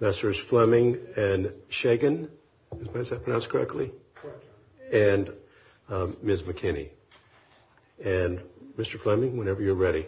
Messrs. Fleming and Shagan. Is that pronounced correctly? And Ms. McKinney. And Mr. Fleming, whenever you're ready.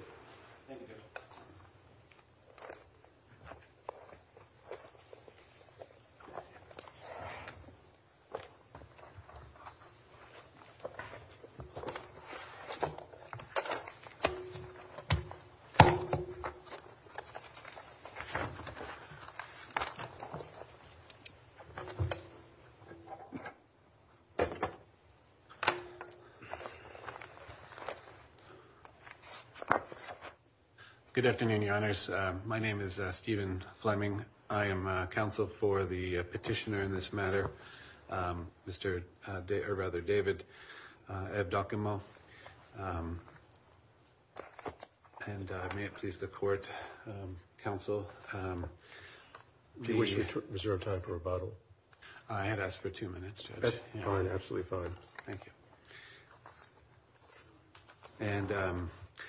Good afternoon, Your Honors. My name is Stephen Fleming. I am counsel for the petitioner in this matter, Mr. David Evdokimow. And may it please the court, counsel. Was there a time for rebuttal? I had asked for two minutes. Absolutely fine. Thank you. And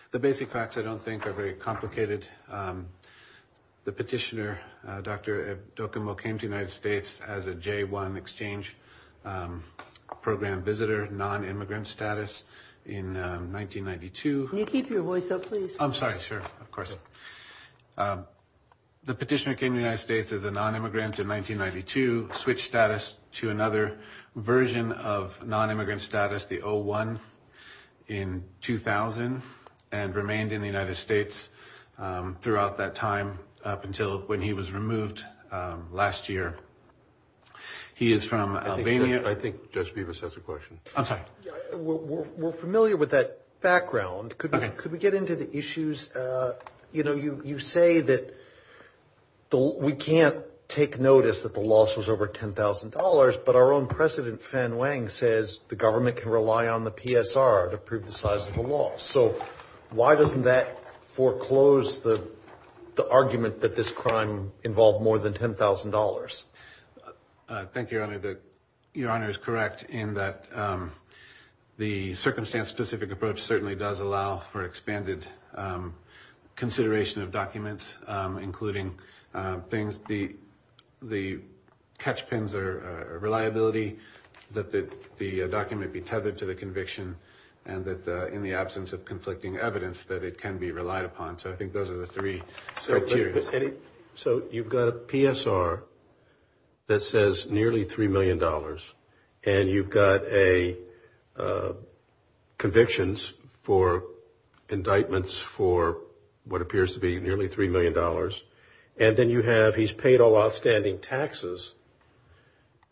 the basic facts, I don't think, are very complicated. The petitioner, Dr. Evdokimow, came to the United States as a J1 exchange program visitor, non-immigrant status in 1992. Can you keep your voice up, please? I'm sorry. Sure. Of course. The petitioner came to the United States as a non-immigrant in 1992, switched status to another version of non-immigrant status, the O1, in 2000, and remained in the United States throughout that time up until when he was removed last year. He is from Albania. I think Judge Beavis has a question. I'm sorry. We're familiar with that background. Could we get into the issues? You know, you say that we can't take notice that the loss was over $10,000, but our own president, Fen Wang, says the government can rely on the PSR to prove the size of the loss. So why doesn't that foreclose the argument that this crime involved more than $10,000? Thank you, Your Honor. Your Honor is correct in that the circumstance-specific approach certainly does allow for expanded consideration of documents, including things, the catchpins are reliability, that the document be tethered to the conviction, and that in the absence of conflicting evidence, that it can be relied upon. So I think those are the three criteria. So you've got a PSR that says nearly $3 million, and you've got convictions for indictments for what appears to be nearly $3 million, and then you have, he's paid all outstanding taxes,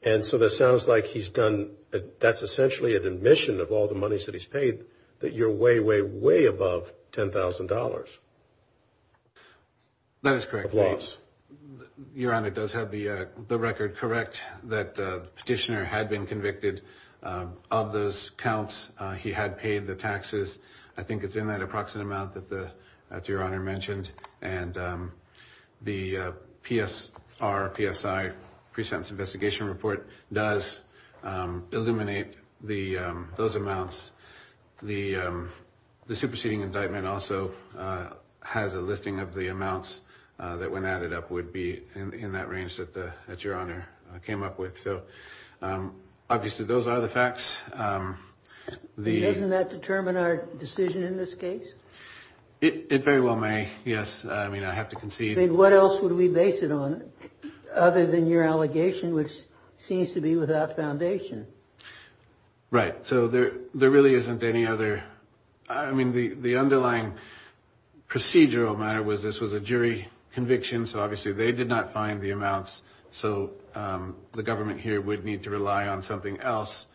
and so that sounds like he's done, that's essentially an admission of all the monies that he's paid that you're way, way, way above $10,000. That is correct. Of loss. Your Honor, it does have the record correct that the petitioner had been convicted of those counts. He had paid the taxes. I think it's in that approximate amount that Your Honor mentioned, and the PSR, PSI, Pre-Sentence Investigation Report, does illuminate those amounts. The superseding indictment also has a listing of the amounts that, when added up, would be in that range that Your Honor came up with. So, obviously, those are the facts. Doesn't that determine our decision in this case? It very well may, yes. I mean, I have to concede. Then what else would we base it on, other than your allegation, which seems to be without foundation? Right, so there really isn't any other, I mean, the underlying procedural matter was this was a jury conviction, so obviously they did not find the amounts, so the government here would need to rely on something else.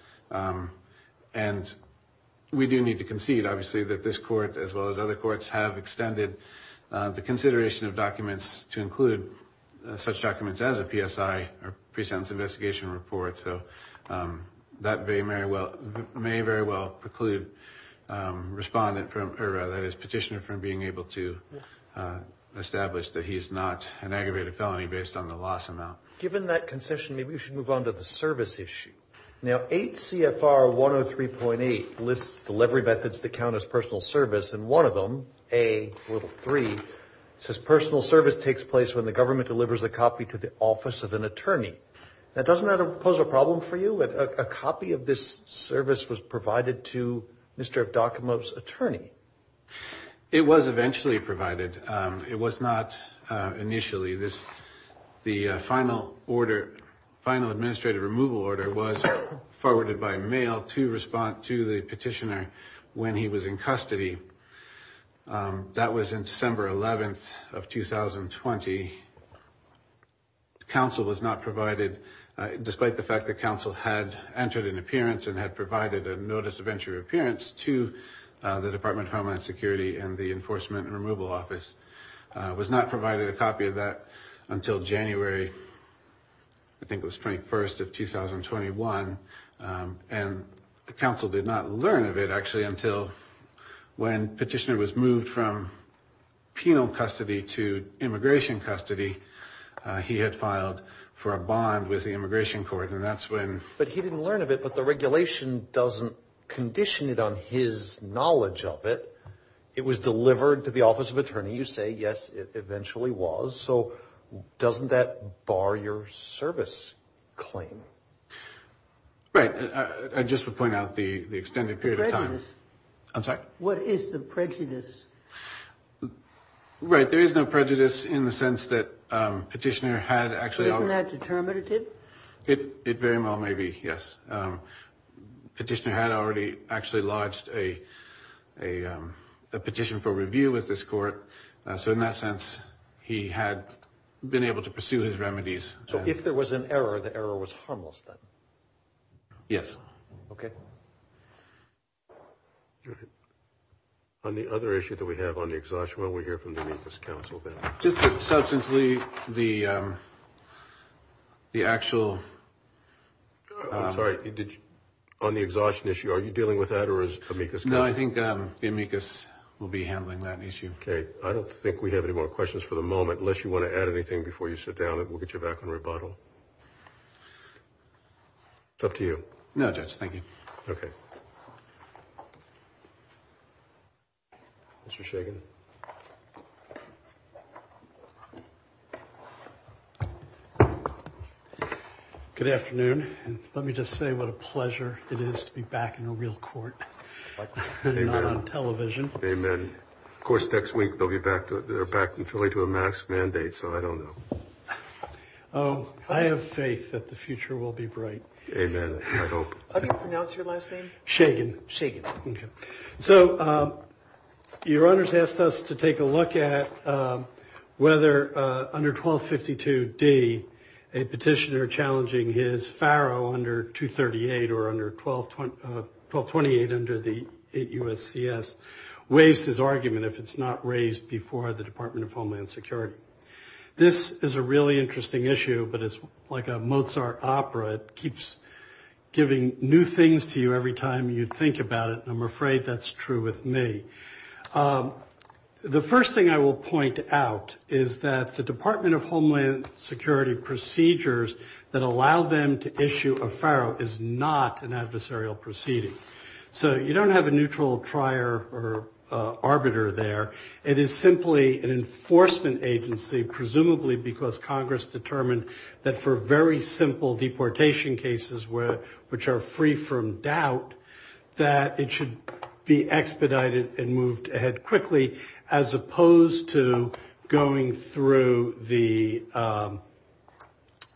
And we do need to concede, obviously, that this court, as well as other courts, have extended the consideration of documents to include such documents as a PSI or Pre-Sentence Investigation Report, so that may very well preclude the petitioner from being able to establish that he is not an aggravated felony based on the loss amount. Given that concession, maybe we should move on to the service issue. Now, 8 CFR 103.8 lists delivery methods that count as personal service, and one of them, A little 3, says personal service takes place when the government delivers a copy to the office of an attorney. Now, doesn't that pose a problem for you? A copy of this service was provided to Mr. Docomo's attorney. It was eventually provided. It was not initially. The final order, final administrative removal order, was forwarded by mail to respond to the petitioner when he was in custody. That was in December 11th of 2020. Council was not provided, despite the fact that council had entered an appearance and had provided a notice of entry or appearance to the Department of Homeland Security and the Enforcement and Removal Office, was not provided a copy of that until January, I think, was 21st of 2021. And the council did not learn of it, actually, until when petitioner was moved from penal custody to immigration custody. He had filed for a bond with the immigration court, and that's when... But he didn't learn of it, but the regulation doesn't condition it on his knowledge of it. It was delivered to the office of attorney. You say, yes, it eventually was. So doesn't that bar your service claim? Right. I just would point out the extended period of time. Prejudice? I'm sorry? What is the prejudice? Right. There is no prejudice in the sense that petitioner had actually... Isn't that determinative? It very well may be, yes. Petitioner had already actually lodged a petition for review with this court. So in that sense, he had been able to pursue his remedies. So if there was an error, the error was harmless then? Yes. Okay. On the other issue that we have on the exhaustion, we'll hear from the amicus council then. Just to substantiate the actual... I'm sorry. On the exhaustion issue, are you dealing with that, or is amicus council? No, I think the amicus will be handling that issue. Okay. I don't think we have any more questions for the moment, unless you want to add anything before you sit down. We'll get you back on rebuttal. It's up to you. No, Judge. Thank you. Okay. Mr. Shagan. Good afternoon. Let me just say what a pleasure it is to be back in a real court. Amen. Not on television. Amen. Of course, next week they'll be back in Philly to amass mandates, so I don't know. I have faith that the future will be bright. Amen. I hope. How do you pronounce your last name? Shagan. Shagan. Okay. So your honors asked us to take a look at whether under 1252D, a petitioner challenging his pharaoh under 238 or under 1228 under the USCS, waives his argument if it's not raised before the Department of Homeland Security. This is a really interesting issue, but it's like a Mozart opera. It keeps giving new things to you every time you think about it, and I'm afraid that's true with me. The first thing I will point out is that the Department of Homeland Security procedures that allow them to issue a pharaoh is not an adversarial proceeding. So you don't have a neutral trier or arbiter there. It is simply an enforcement agency, presumably because Congress determined that for very simple deportation cases, which are free from doubt, that it should be expedited and moved ahead quickly, as opposed to going through the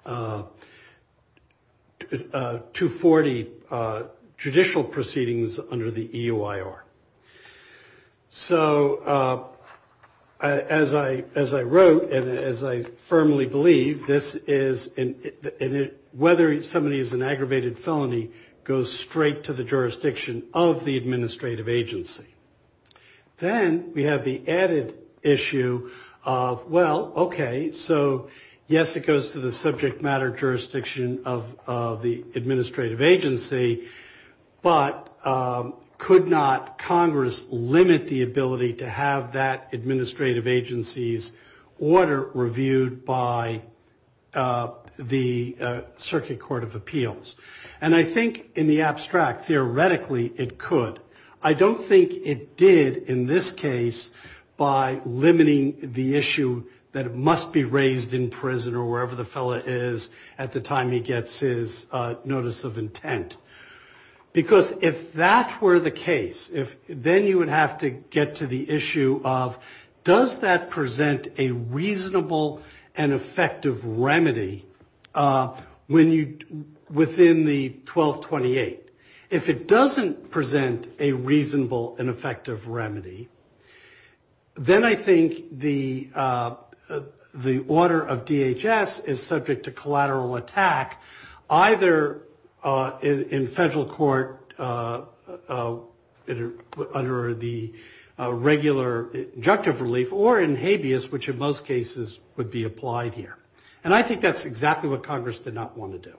240 judicial proceedings under the EUIR. So as I wrote and as I firmly believe, whether somebody is an aggravated felony goes straight to the jurisdiction of the administrative agency. Then we have the added issue of, well, okay, so yes, it goes to the subject matter jurisdiction of the administrative agency, but could not Congress limit the ability to have that administrative agency's order reviewed by the Circuit Court of Appeals? And I think in the abstract, theoretically it could. I don't think it did in this case by limiting the issue that it must be raised in prison or wherever the fellow is at the time he gets his notice of intent. Because if that were the case, then you would have to get to the issue of, does that present a reasonable and effective remedy within the 1228? If it doesn't present a reasonable and effective remedy, then I think the order of DHS is subject to collateral attack, either in federal court under the regular injunctive relief or in habeas, which in most cases would be applied here. And I think that's exactly what Congress did not want to do.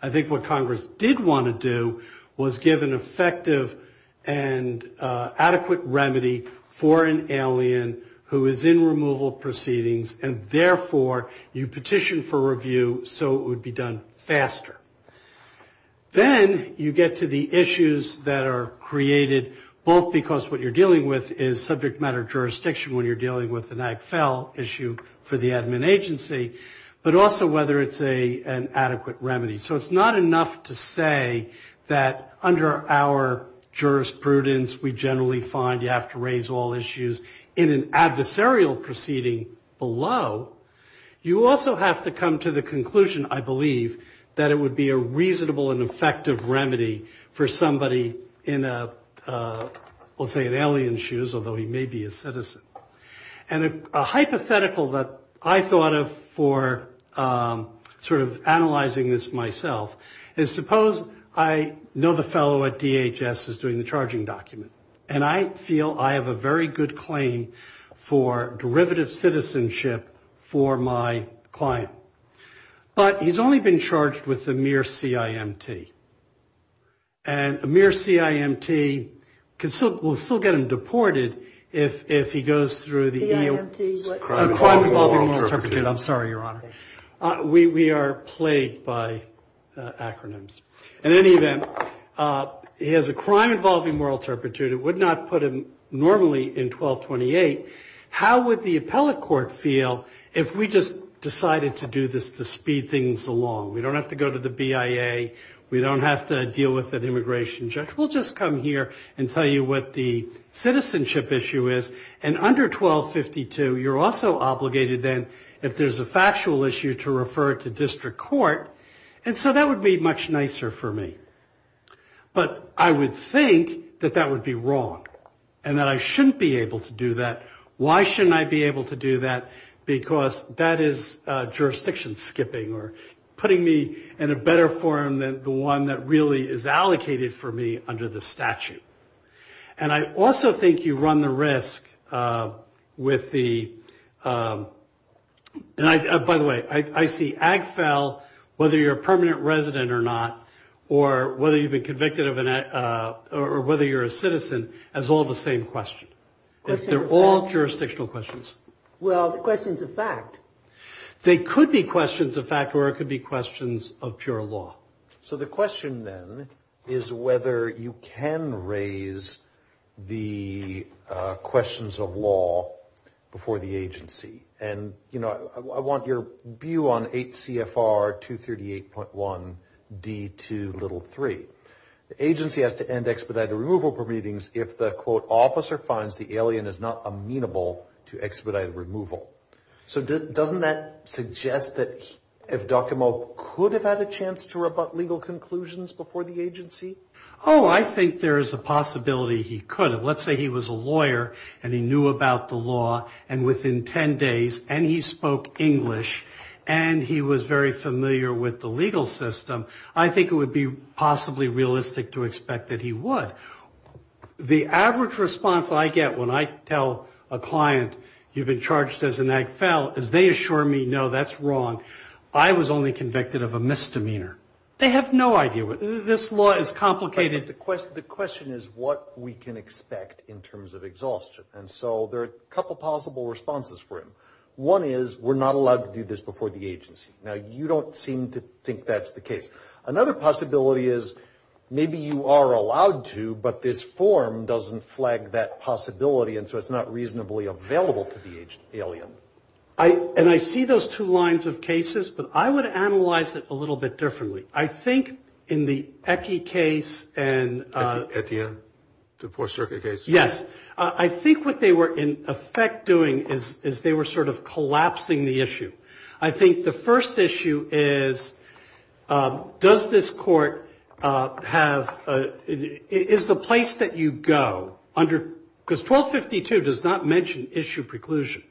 I think what Congress did want to do was give an effective and adequate remedy for an alien who is in removal proceedings, and therefore you petition for review so it would be done faster. Then you get to the issues that are created both because what you're dealing with is subject matter jurisdiction when you're dealing with an AGFEL issue for the admin agency, but also whether it's an adequate remedy. So it's not enough to say that under our jurisprudence, we generally find you have to raise all issues in an adversarial proceeding below. You also have to come to the conclusion, I believe, that it would be a reasonable and effective remedy for somebody in a, we'll say in alien shoes, although he may be a citizen. And a hypothetical that I thought of for sort of analyzing this myself is, suppose I know the fellow at DHS is doing the charging document, and I feel I have a very good claim for derivative citizenship for my client, but he's only been charged with a mere CIMT. And a mere CIMT will still get him deported if he goes through the EO. I'm sorry, Your Honor. We are plagued by acronyms. In any event, he has a crime involving moral turpitude. It would not put him normally in 1228. How would the appellate court feel if we just decided to do this to speed things along? We don't have to go to the BIA. We don't have to deal with an immigration judge. We'll just come here and tell you what the citizenship issue is. And under 1252, you're also obligated then, if there's a factual issue, to refer it to district court. And so that would be much nicer for me. But I would think that that would be wrong and that I shouldn't be able to do that. Why shouldn't I be able to do that? Because that is jurisdiction skipping, or putting me in a better form than the one that really is allocated for me under the statute. And I also think you run the risk with the... By the way, I see AGFEL, whether you're a permanent resident or not, or whether you've been convicted or whether you're a citizen, as all the same question. They're all jurisdictional questions. Well, questions of fact. They could be questions of fact or it could be questions of pure law. So the question then is whether you can raise the questions of law before the agency. And, you know, I want your view on 8 CFR 238.1 D2 little 3. The agency has to end expedited removal from meetings if the, quote, officer finds the alien is not amenable to expedited removal. So doesn't that suggest that if Docomo could have had a chance to rebut legal conclusions before the agency? Oh, I think there is a possibility he could have. Let's say he was a lawyer and he knew about the law, and within 10 days, and he spoke English, and he was very familiar with the legal system, I think it would be possibly realistic to expect that he would. The average response I get when I tell a client, you've been charged as an ag fell, is they assure me, no, that's wrong. I was only convicted of a misdemeanor. They have no idea. This law is complicated. But the question is what we can expect in terms of exhaustion. And so there are a couple possible responses for him. One is we're not allowed to do this before the agency. Now, you don't seem to think that's the case. Another possibility is maybe you are allowed to, but this form doesn't flag that possibility, and so it's not reasonably available to the alien. And I see those two lines of cases, but I would analyze it a little bit differently. I think in the EKI case and the Fourth Circuit case, yes, I think what they were in effect doing is they were sort of collapsing the issue. I think the first issue is does this court have the place that you go under because 1252 does not mention issue preclusion.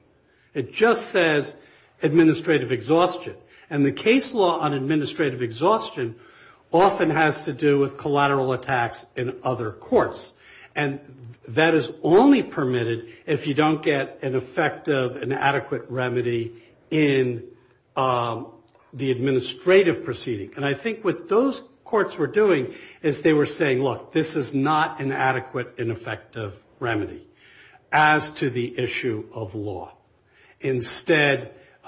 It just says administrative exhaustion. And the case law on administrative exhaustion often has to do with collateral attacks in other courts. And that is only permitted if you don't get an effective and adequate remedy in the administrative proceeding. And I think what those courts were doing is they were saying, look, this is not an adequate and effective remedy as to the issue of law. Instead, you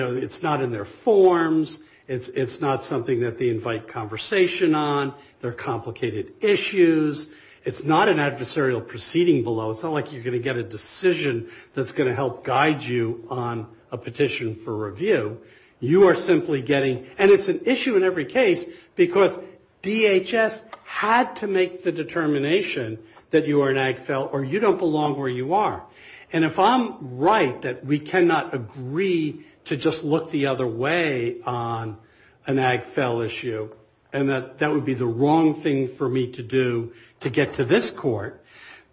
know, it's not in their forms. It's not something that they invite conversation on. There are complicated issues. It's not an adversarial proceeding below. It's not like you're going to get a decision that's going to help guide you on a petition for review. You are simply getting, and it's an issue in every case, because DHS had to make the determination that you are an AGFEL or you don't belong where you are. And if I'm right that we cannot agree to just look the other way on an AGFEL issue and that that would be the wrong thing for me to do to get to this court,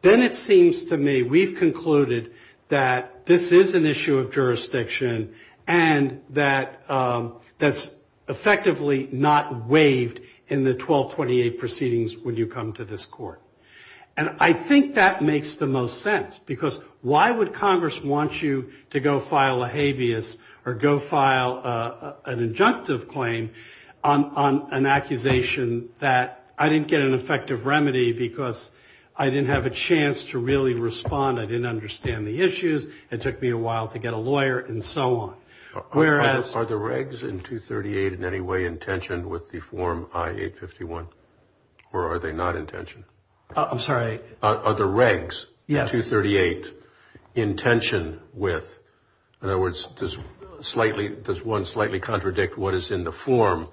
then it seems to me we've concluded that this is an issue of jurisdiction and that that's effectively not waived in the 1228 proceedings when you come to this court. And I think that makes the most sense, because why would Congress want you to go file a habeas or go file an injunctive claim on an accusation that I didn't get an effective remedy because I didn't have a chance to really respond. I didn't understand the issues. It took me a while to get a lawyer and so on. Are the regs in 238 in any way intentioned with the form I-851? Or are they not intentioned? I'm sorry. Are the regs in 238 intentioned with? In other words, does one slightly contradict what is in the form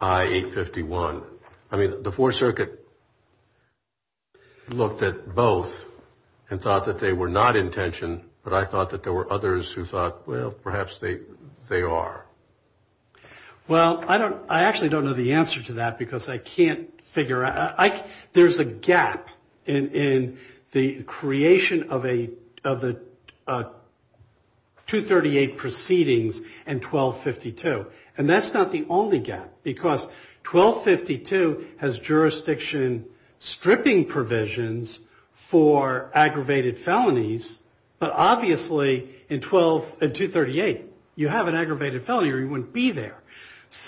I-851? I mean, the Fourth Circuit looked at both and thought that they were not intentioned, but I thought that there were others who thought, well, perhaps they are. Well, I actually don't know the answer to that because I can't figure out. There's a gap in the creation of the 238 proceedings and 1252, and that's not the only gap because 1252 has jurisdiction stripping provisions for aggravated felonies, but obviously in 238 you have an aggravated felony or you wouldn't be there,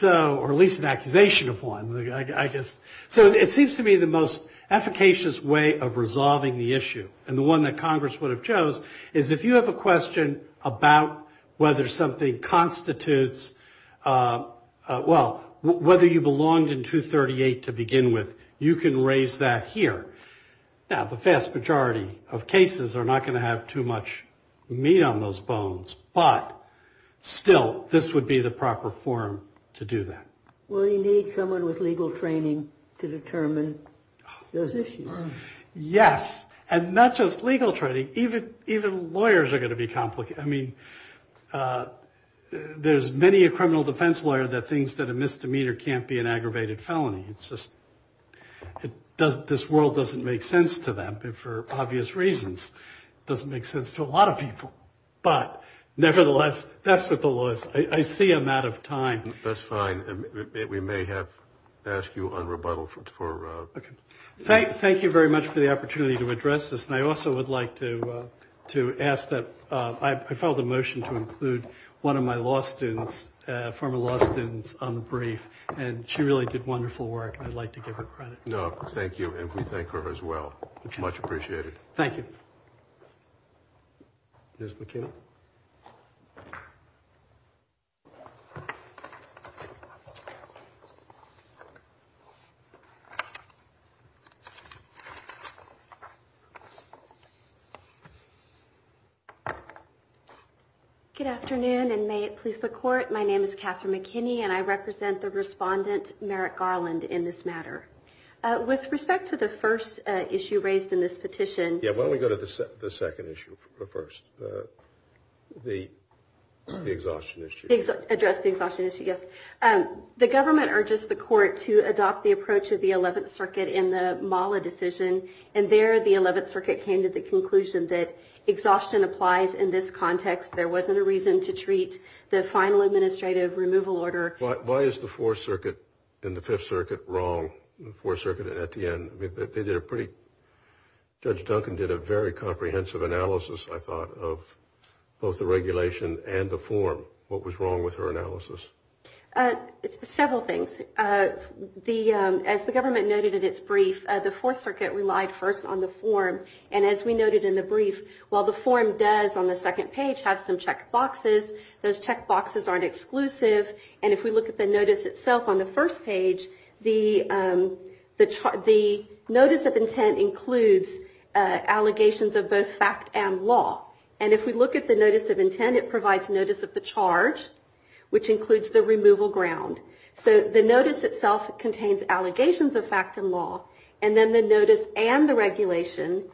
or at least an accusation of one, I guess. So it seems to me the most efficacious way of resolving the issue and the one that Congress would have chose is if you have a question about whether something constitutes, well, whether you belonged in 238 to begin with, you can raise that here. Now, the vast majority of cases are not going to have too much meat on those bones, but still this would be the proper forum to do that. Well, you need someone with legal training to determine those issues. Yes, and not just legal training, even lawyers are going to be complicated. I mean, there's many a criminal defense lawyer that thinks that a misdemeanor can't be an aggravated felony. It's just this world doesn't make sense to them for obvious reasons. It doesn't make sense to a lot of people, but nevertheless, that's what the law is. I see I'm out of time. That's fine. We may have asked you on rebuttal. Thank you very much for the opportunity to address this, and I also would like to ask that I file the motion to include one of my law students, former law students on the brief, and she really did wonderful work. I'd like to give her credit. No, thank you, and we thank her as well. Much appreciated. Thank you. Ms. McKinney. Good afternoon, and may it please the Court, my name is Catherine McKinney, and I represent the respondent, Merrick Garland, in this matter. With respect to the first issue raised in this petition. Yeah, why don't we go to the second issue first, the exhaustion issue. Address the exhaustion issue, yes. The government urges the Court to adopt the approach of the Eleventh Circuit in the Mala decision, and there the Eleventh Circuit came to the conclusion that exhaustion applies in this context. There wasn't a reason to treat the final administrative removal order. Why is the Fourth Circuit and the Fifth Circuit wrong, the Fourth Circuit at the end? Judge Duncan did a very comprehensive analysis, I thought, of both the regulation and the form. What was wrong with her analysis? Several things. As the government noted in its brief, the Fourth Circuit relied first on the form, and as we noted in the brief, while the form does on the second page have some check boxes, those check boxes aren't exclusive, and if we look at the notice itself on the first page, the notice of intent includes allegations of both fact and law, and if we look at the notice of intent, it provides notice of the charge, which includes the removal ground. So the notice itself contains allegations of fact and law, and then the notice and the regulation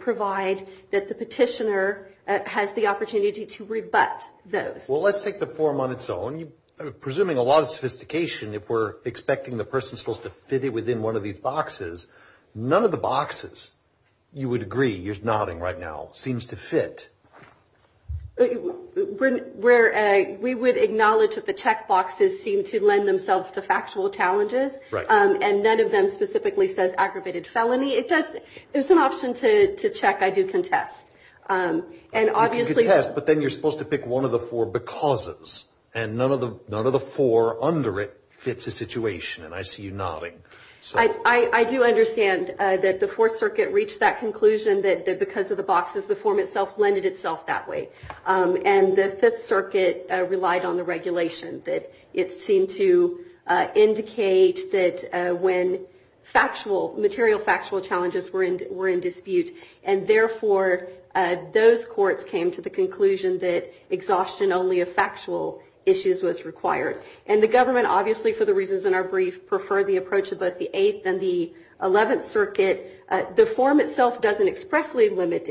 provide that the petitioner has the opportunity to rebut those. Well, let's take the form on its own. I'm presuming a lot of sophistication if we're expecting the person supposed to fit it within one of these boxes. None of the boxes, you would agree, you're nodding right now, seems to fit. We would acknowledge that the check boxes seem to lend themselves to factual challenges, and none of them specifically says aggravated felony. There's an option to check. I do contest. You contest, but then you're supposed to pick one of the four becauses, and none of the four under it fits the situation, and I see you nodding. I do understand that the Fourth Circuit reached that conclusion that because of the boxes, the form itself lended itself that way, and the Fifth Circuit relied on the regulation, that it seemed to indicate that when factual, material factual challenges were in dispute, and therefore those courts came to the conclusion that exhaustion only of factual issues was required. And the government, obviously, for the reasons in our brief, preferred the approach of both the Eighth and the Eleventh Circuit. The form itself doesn't expressly limit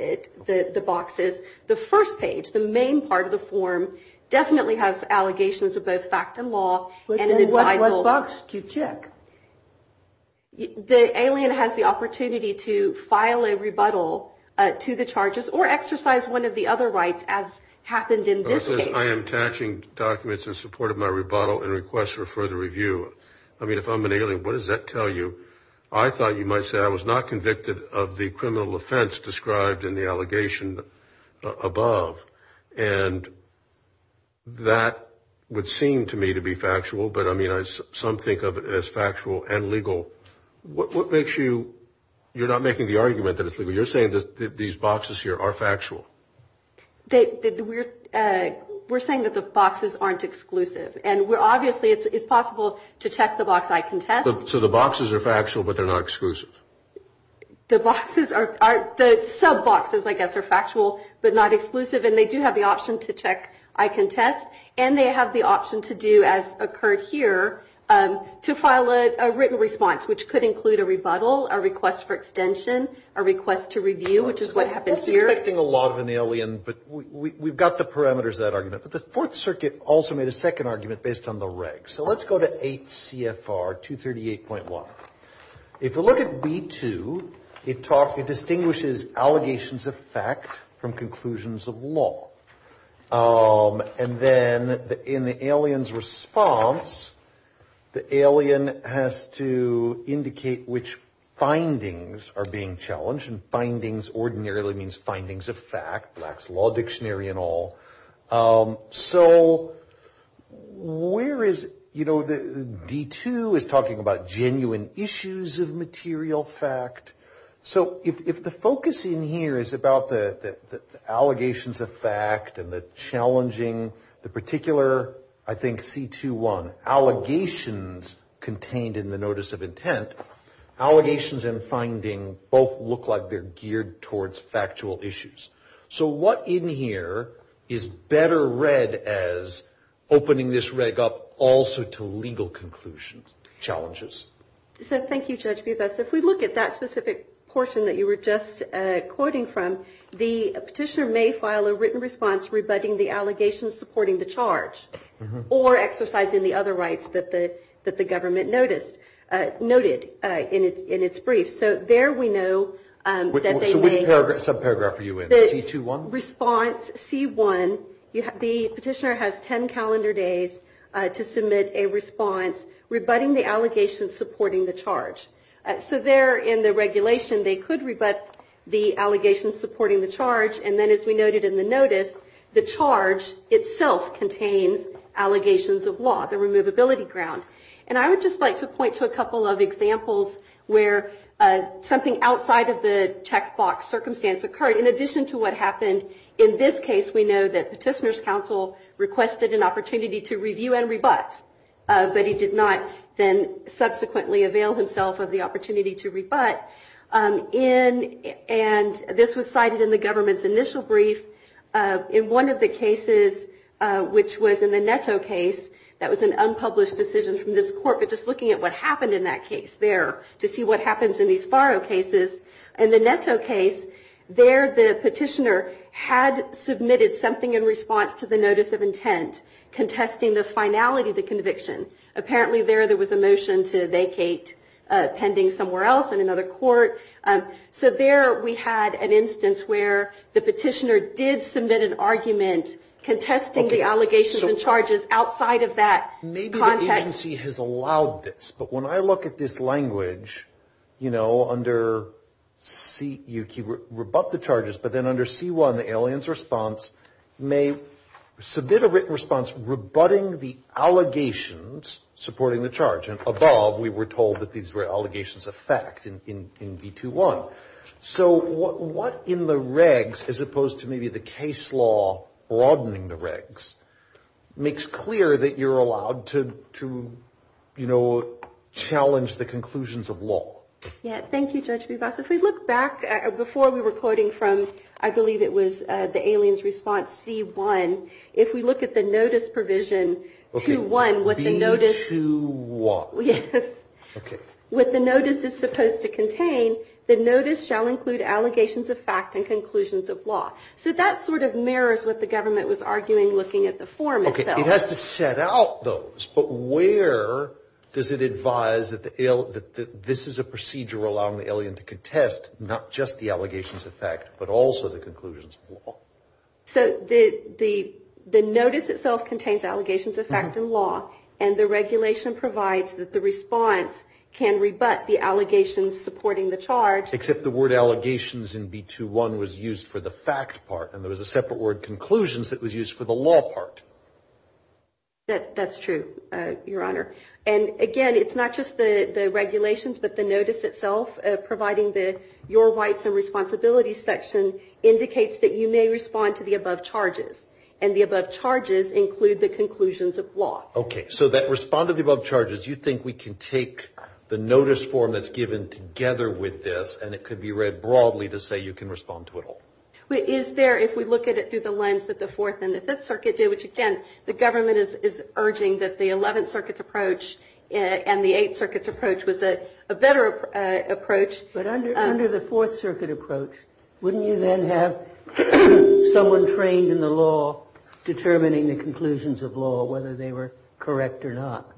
the boxes. The first page, the main part of the form, definitely has allegations of both fact and law. What box do you check? The alien has the opportunity to file a rebuttal to the charges or exercise one of the other rights as happened in this case. I am attaching documents in support of my rebuttal and request for further review. I mean, if I'm an alien, what does that tell you? I thought you might say I was not convicted of the criminal offense described in the allegation above, and that would seem to me to be factual, but, I mean, some think of it as factual and legal. What makes you – you're not making the argument that it's legal. You're saying that these boxes here are factual. We're saying that the boxes aren't exclusive, and we're – obviously, it's possible to check the box. I can test. So the boxes are factual, but they're not exclusive? The boxes are – the sub boxes, I guess, are factual, but not exclusive, and they do have the option to check I can test, and they have the option to do, as occurred here, to file a written response, which could include a rebuttal, a request for extension, a request to review, which is what happened here. I wasn't expecting a lot of an alien, but we've got the parameters of that argument. But the Fourth Circuit also made a second argument based on the regs. So let's go to 8 CFR 238.1. If you look at B2, it distinguishes allegations of fact from conclusions of law. And then in the alien's response, the alien has to indicate which findings are being challenged, and findings ordinarily means findings of fact, Black's Law Dictionary and all. So where is – you know, D2 is talking about genuine issues of material fact. So if the focus in here is about the allegations of fact and the challenging, the particular, I think, C21, allegations contained in the notice of intent, allegations and finding both look like they're geared towards factual issues. So what in here is better read as opening this reg up also to legal conclusions, challenges? So thank you, Judge Bibas. If we look at that specific portion that you were just quoting from, the petitioner may file a written response rebutting the allegations supporting the charge or exercising the other rights that the government noticed – noted in its brief. So there we know that they may – Which subparagraph are you in? C21? Response C1. The petitioner has 10 calendar days to submit a response rebutting the allegations supporting the charge. So there in the regulation, they could rebut the allegations supporting the charge, and then as we noted in the notice, the charge itself contains allegations of law, the removability ground. And I would just like to point to a couple of examples where something outside of the checkbox circumstance occurred. In addition to what happened in this case, we know that petitioner's counsel requested an opportunity to review and rebut, but he did not then subsequently avail himself of the opportunity to rebut. And this was cited in the government's initial brief. In one of the cases, which was in the Netto case, that was an unpublished decision from this court, but just looking at what happened in that case there to see what happens in these Faro cases. In the Netto case, there the petitioner had submitted something in response to the notice of intent, contesting the finality of the conviction. Apparently there there was a motion to vacate pending somewhere else in another court. So there we had an instance where the petitioner did submit an argument contesting the allegations and charges outside of that context. Maybe the agency has allowed this, but when I look at this language, you know, under C, you can rebut the charges, but then under C-1, the alien's response may submit a written response rebutting the allegations supporting the charge. And above, we were told that these were allegations of fact in B-2-1. So what in the regs, as opposed to maybe the case law broadening the regs, makes clear that you're allowed to, you know, challenge the conclusions of law? Yeah, thank you, Judge Bivas. If we look back before we were quoting from, I believe it was the alien's response C-1, if we look at the notice provision 2-1, what the notice. B-2-1. Yes. Okay. What the notice is supposed to contain, the notice shall include allegations of fact and conclusions of law. So that sort of mirrors what the government was arguing looking at the form itself. Okay. It has to set out those, but where does it advise that this is a procedure allowing the alien to contest not just the allegations of fact, but also the conclusions of law? So the notice itself contains allegations of fact and law, and the regulation provides that the response can rebut the allegations supporting the charge. Except the word allegations in B-2-1 was used for the fact part, and there was a separate word conclusions that was used for the law part. That's true, Your Honor. And, again, it's not just the regulations, but the notice itself providing your rights and responsibilities section indicates that you may respond to the above charges, and the above charges include the conclusions of law. Okay. So that respond to the above charges, you think we can take the notice form that's given together with this, and it could be read broadly to say you can respond to it all? Is there, if we look at it through the lens that the Fourth and the Fifth Circuit did, which, again, the government is urging that the Eleventh Circuit's approach and the Eighth Circuit's approach was a better approach. But under the Fourth Circuit approach, wouldn't you then have someone trained in the law determining the conclusions of law, whether they were correct or not?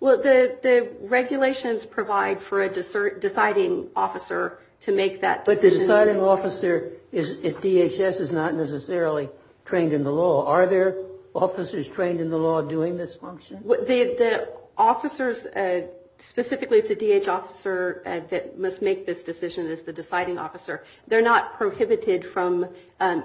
Well, the regulations provide for a deciding officer to make that decision. But the deciding officer at DHS is not necessarily trained in the law. Are there officers trained in the law doing this function? The officers, specifically it's a DHS officer that must make this decision as the deciding officer. They're not prohibited from,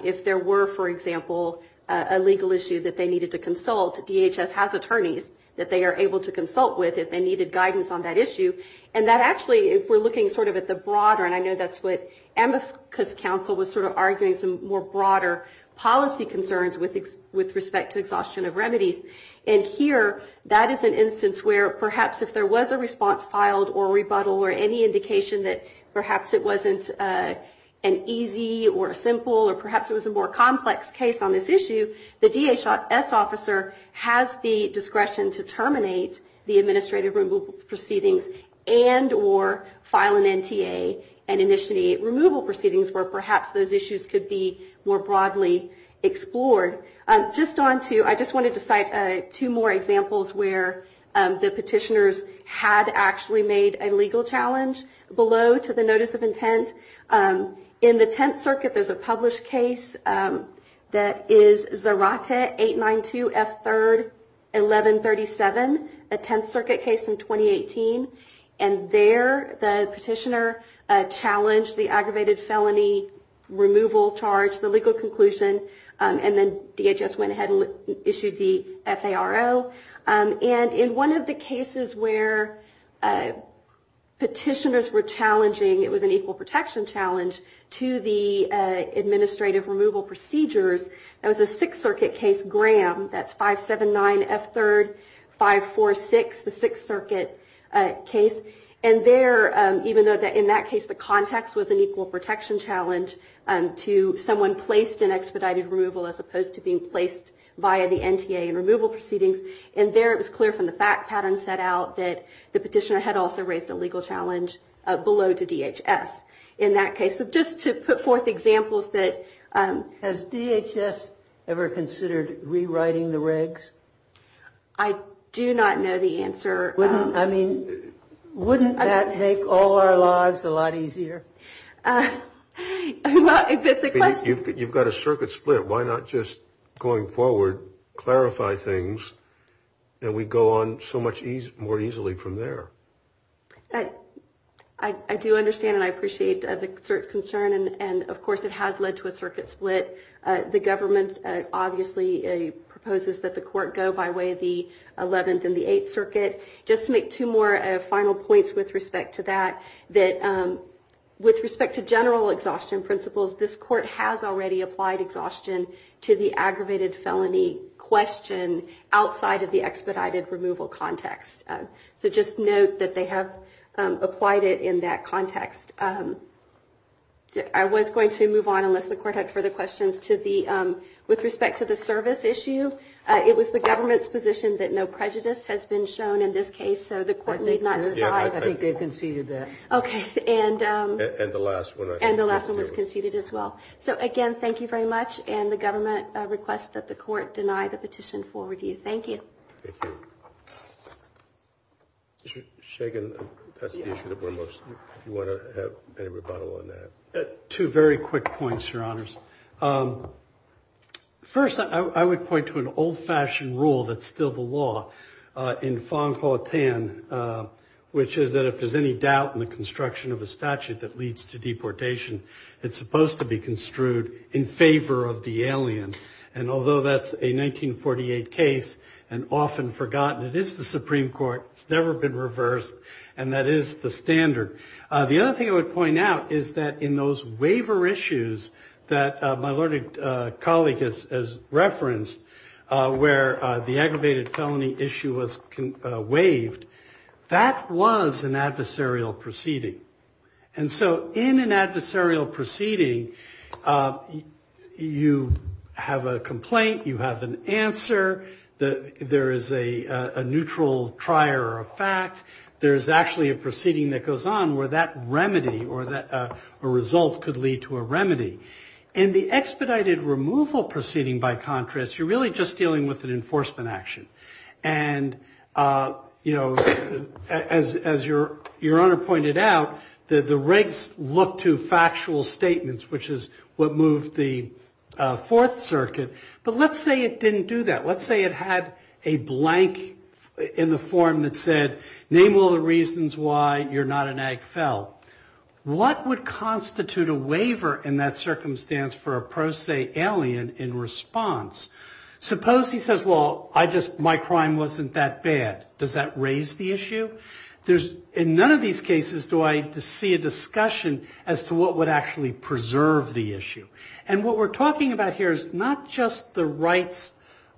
if there were, for example, a legal issue that they needed to consult, DHS has attorneys that they are able to consult with if they needed guidance on that issue. And that actually, if we're looking sort of at the broader, and I know that's what Amicus Council was sort of arguing, some more broader policy concerns with respect to exhaustion of remedies. And here that is an instance where perhaps if there was a response filed or rebuttal or any indication that perhaps it wasn't an easy or a simple or perhaps it was a more complex case on this issue, the DHS officer has the discretion to terminate the administrative removal proceedings and or file an NTA and initiate removal proceedings where perhaps those issues could be more broadly explored. Just on to, I just wanted to cite two more examples where the petitioners had actually made a legal challenge below to the notice of intent. In the Tenth Circuit there's a published case that is Zarate 892 F3rd 1137, a Tenth Circuit case in 2018. And there the petitioner challenged the aggravated felony removal charge, the legal conclusion, and then DHS went ahead and issued the FARO. And in one of the cases where petitioners were challenging, it was an equal protection challenge to the administrative removal procedures, that was a Sixth Circuit case, Graham, that's 579 F3rd 546, the Sixth Circuit case. And there, even though in that case the context was an equal protection challenge to someone placed in expedited removal as opposed to being placed via the NTA in removal proceedings, and there it was clear from the fact pattern set out that the petitioner had also raised a legal challenge below to DHS. In that case, just to put forth examples that... Has DHS ever considered rewriting the regs? I do not know the answer. I mean, wouldn't that make all our lives a lot easier? You've got a circuit split. Why not just going forward clarify things and we go on so much more easily from there? I do understand and I appreciate the concern, and of course it has led to a circuit split. The government obviously proposes that the court go by way of the Eleventh and the Eighth Circuit. Just to make two more final points with respect to that, that with respect to general exhaustion principles, this court has already applied exhaustion to the aggravated felony question outside of the expedited removal context. So just note that they have applied it in that context. I was going to move on unless the court had further questions with respect to the service issue. It was the government's position that no prejudice has been shown in this case, so the court need not... I think they conceded that. Okay. And the last one... And the last one was conceded as well. So again, thank you very much, and the government requests that the court deny the petition for review. Thank you. Thank you. Mr. Shagan, that's the issue that we're most... Do you want to have any rebuttal on that? Two very quick points, Your Honors. First, I would point to an old-fashioned rule that's still the law in Fong-Ho Tan, which is that if there's any doubt in the construction of a statute that leads to deportation, it's supposed to be construed in favor of the alien. And although that's a 1948 case and often forgotten, it is the Supreme Court. It's never been reversed, and that is the standard. The other thing I would point out is that in those waiver issues that my learned colleague has referenced, where the aggravated felony issue was waived, that was an adversarial proceeding. And so in an adversarial proceeding, you have a complaint. You have an answer. There is a neutral trier of fact. There is actually a proceeding that goes on where that remedy or that result could lead to a remedy. In the expedited removal proceeding, by contrast, you're really just dealing with an enforcement action. And, you know, as Your Honor pointed out, the regs look to factual statements, which is what moved the Fourth Circuit. But let's say it didn't do that. Let's say it had a blank in the form that said, name all the reasons why you're not an Ag Fel. What would constitute a waiver in that circumstance for a pro se alien in response? Suppose he says, well, my crime wasn't that bad. Does that raise the issue? In none of these cases do I see a discussion as to what would actually preserve the issue. And what we're talking about here is not just the rights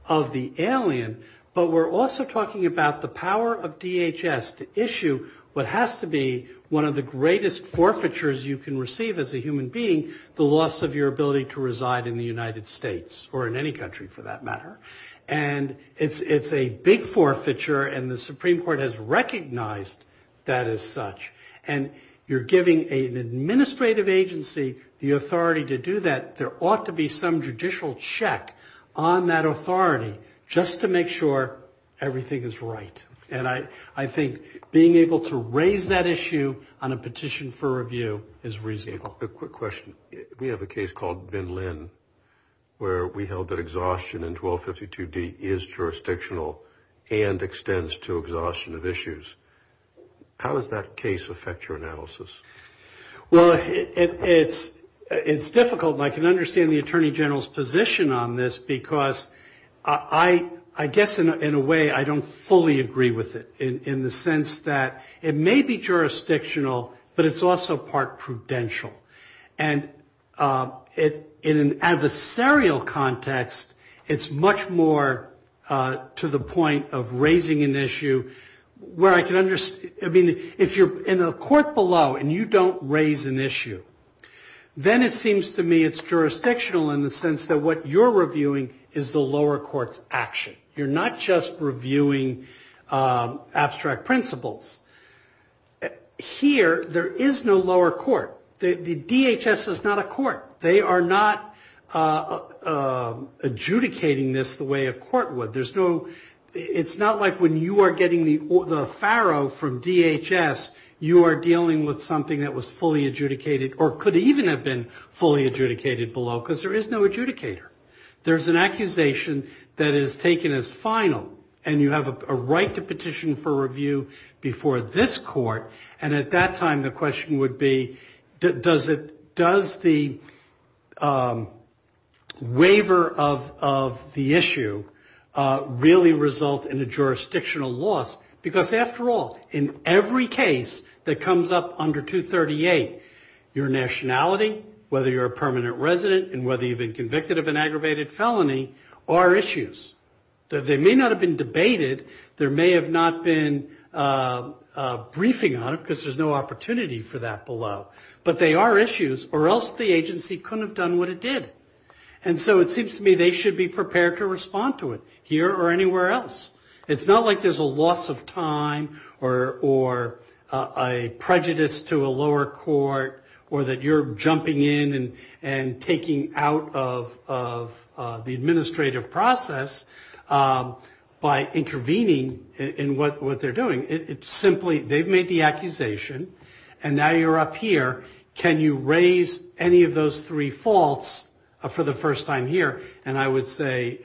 of the alien, but we're also talking about the power of DHS to issue what has to be one of the greatest forfeitures you can receive as a human being, the loss of your ability to reside in the United States, or in any country for that matter. And it's a big forfeiture, and the Supreme Court has recognized that as such. And you're giving an administrative agency the authority to do that. There ought to be some judicial check on that authority just to make sure everything is right. And I think being able to raise that issue on a petition for review is reasonable. A quick question. We have a case called Bin Lin where we held that exhaustion in 1252D is jurisdictional and extends to exhaustion of issues. How does that case affect your analysis? Well, it's difficult, and I can understand the Attorney General's position on this, because I guess in a way I don't fully agree with it in the sense that it may be jurisdictional, but it's also part prudential. And in an adversarial context, it's much more to the point of raising an issue where I can understand. I mean, if you're in a court below and you don't raise an issue, then it seems to me it's jurisdictional in the sense that what you're reviewing is the lower court's action. You're not just reviewing abstract principles. Here, there is no lower court. The DHS is not a court. They are not adjudicating this the way a court would. It's not like when you are getting the FARO from DHS, you are dealing with something that was fully adjudicated or could even have been fully adjudicated below, because there is no adjudicator. There's an accusation that is taken as final, and you have a right to petition for review before this court. And at that time, the question would be, does the waiver of the issue really result in a jurisdictional loss? Because, after all, in every case that comes up under 238, your nationality, whether you're a permanent resident and whether you've been convicted of an aggravated felony, are issues. They may not have been debated. There may have not been a briefing on it, because there's no opportunity for that below. But they are issues, or else the agency couldn't have done what it did. And so it seems to me they should be prepared to respond to it, here or anywhere else. It's not like there's a loss of time or a prejudice to a lower court or that you're jumping in and taking out of the administrative process by intervening in what they're doing. It's simply they've made the accusation, and now you're up here. Can you raise any of those three faults for the first time here? And I would say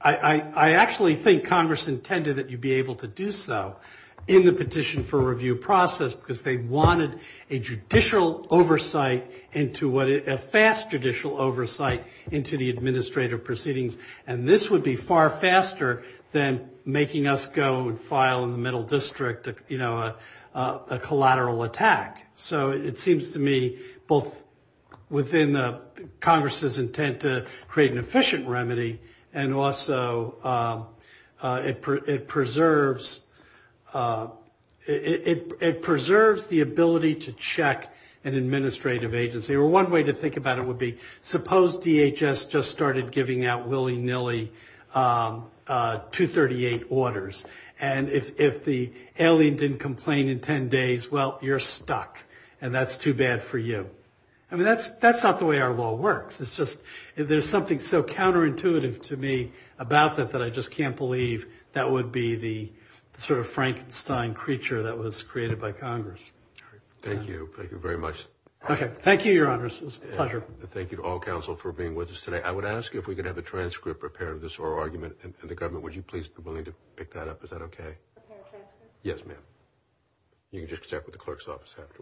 I actually think Congress intended that you be able to do so in the petition for review process, because they wanted a judicial oversight, a fast judicial oversight into the administrative proceedings. And this would be far faster than making us go and file in the middle district a collateral attack. So it seems to me both within Congress's intent to create an efficient remedy and also it preserves the ability to check an administrative agency. Or one way to think about it would be, suppose DHS just started giving out willy-nilly 238 orders, and if the alien didn't complain in 10 days, well, you're stuck, and that's too bad for you. I mean, that's not the way our law works. It's just there's something so counterintuitive to me about that that I just can't believe that would be the sort of Frankenstein creature that was created by Congress. Thank you very much. Okay. Thank you, Your Honors. It was a pleasure. Thank you to all counsel for being with us today. I would ask if we could have a transcript prepared of this oral argument, and the government, would you please be willing to pick that up? Is that okay? A transcript? Yes, ma'am. You can just check with the clerk's office afterwards.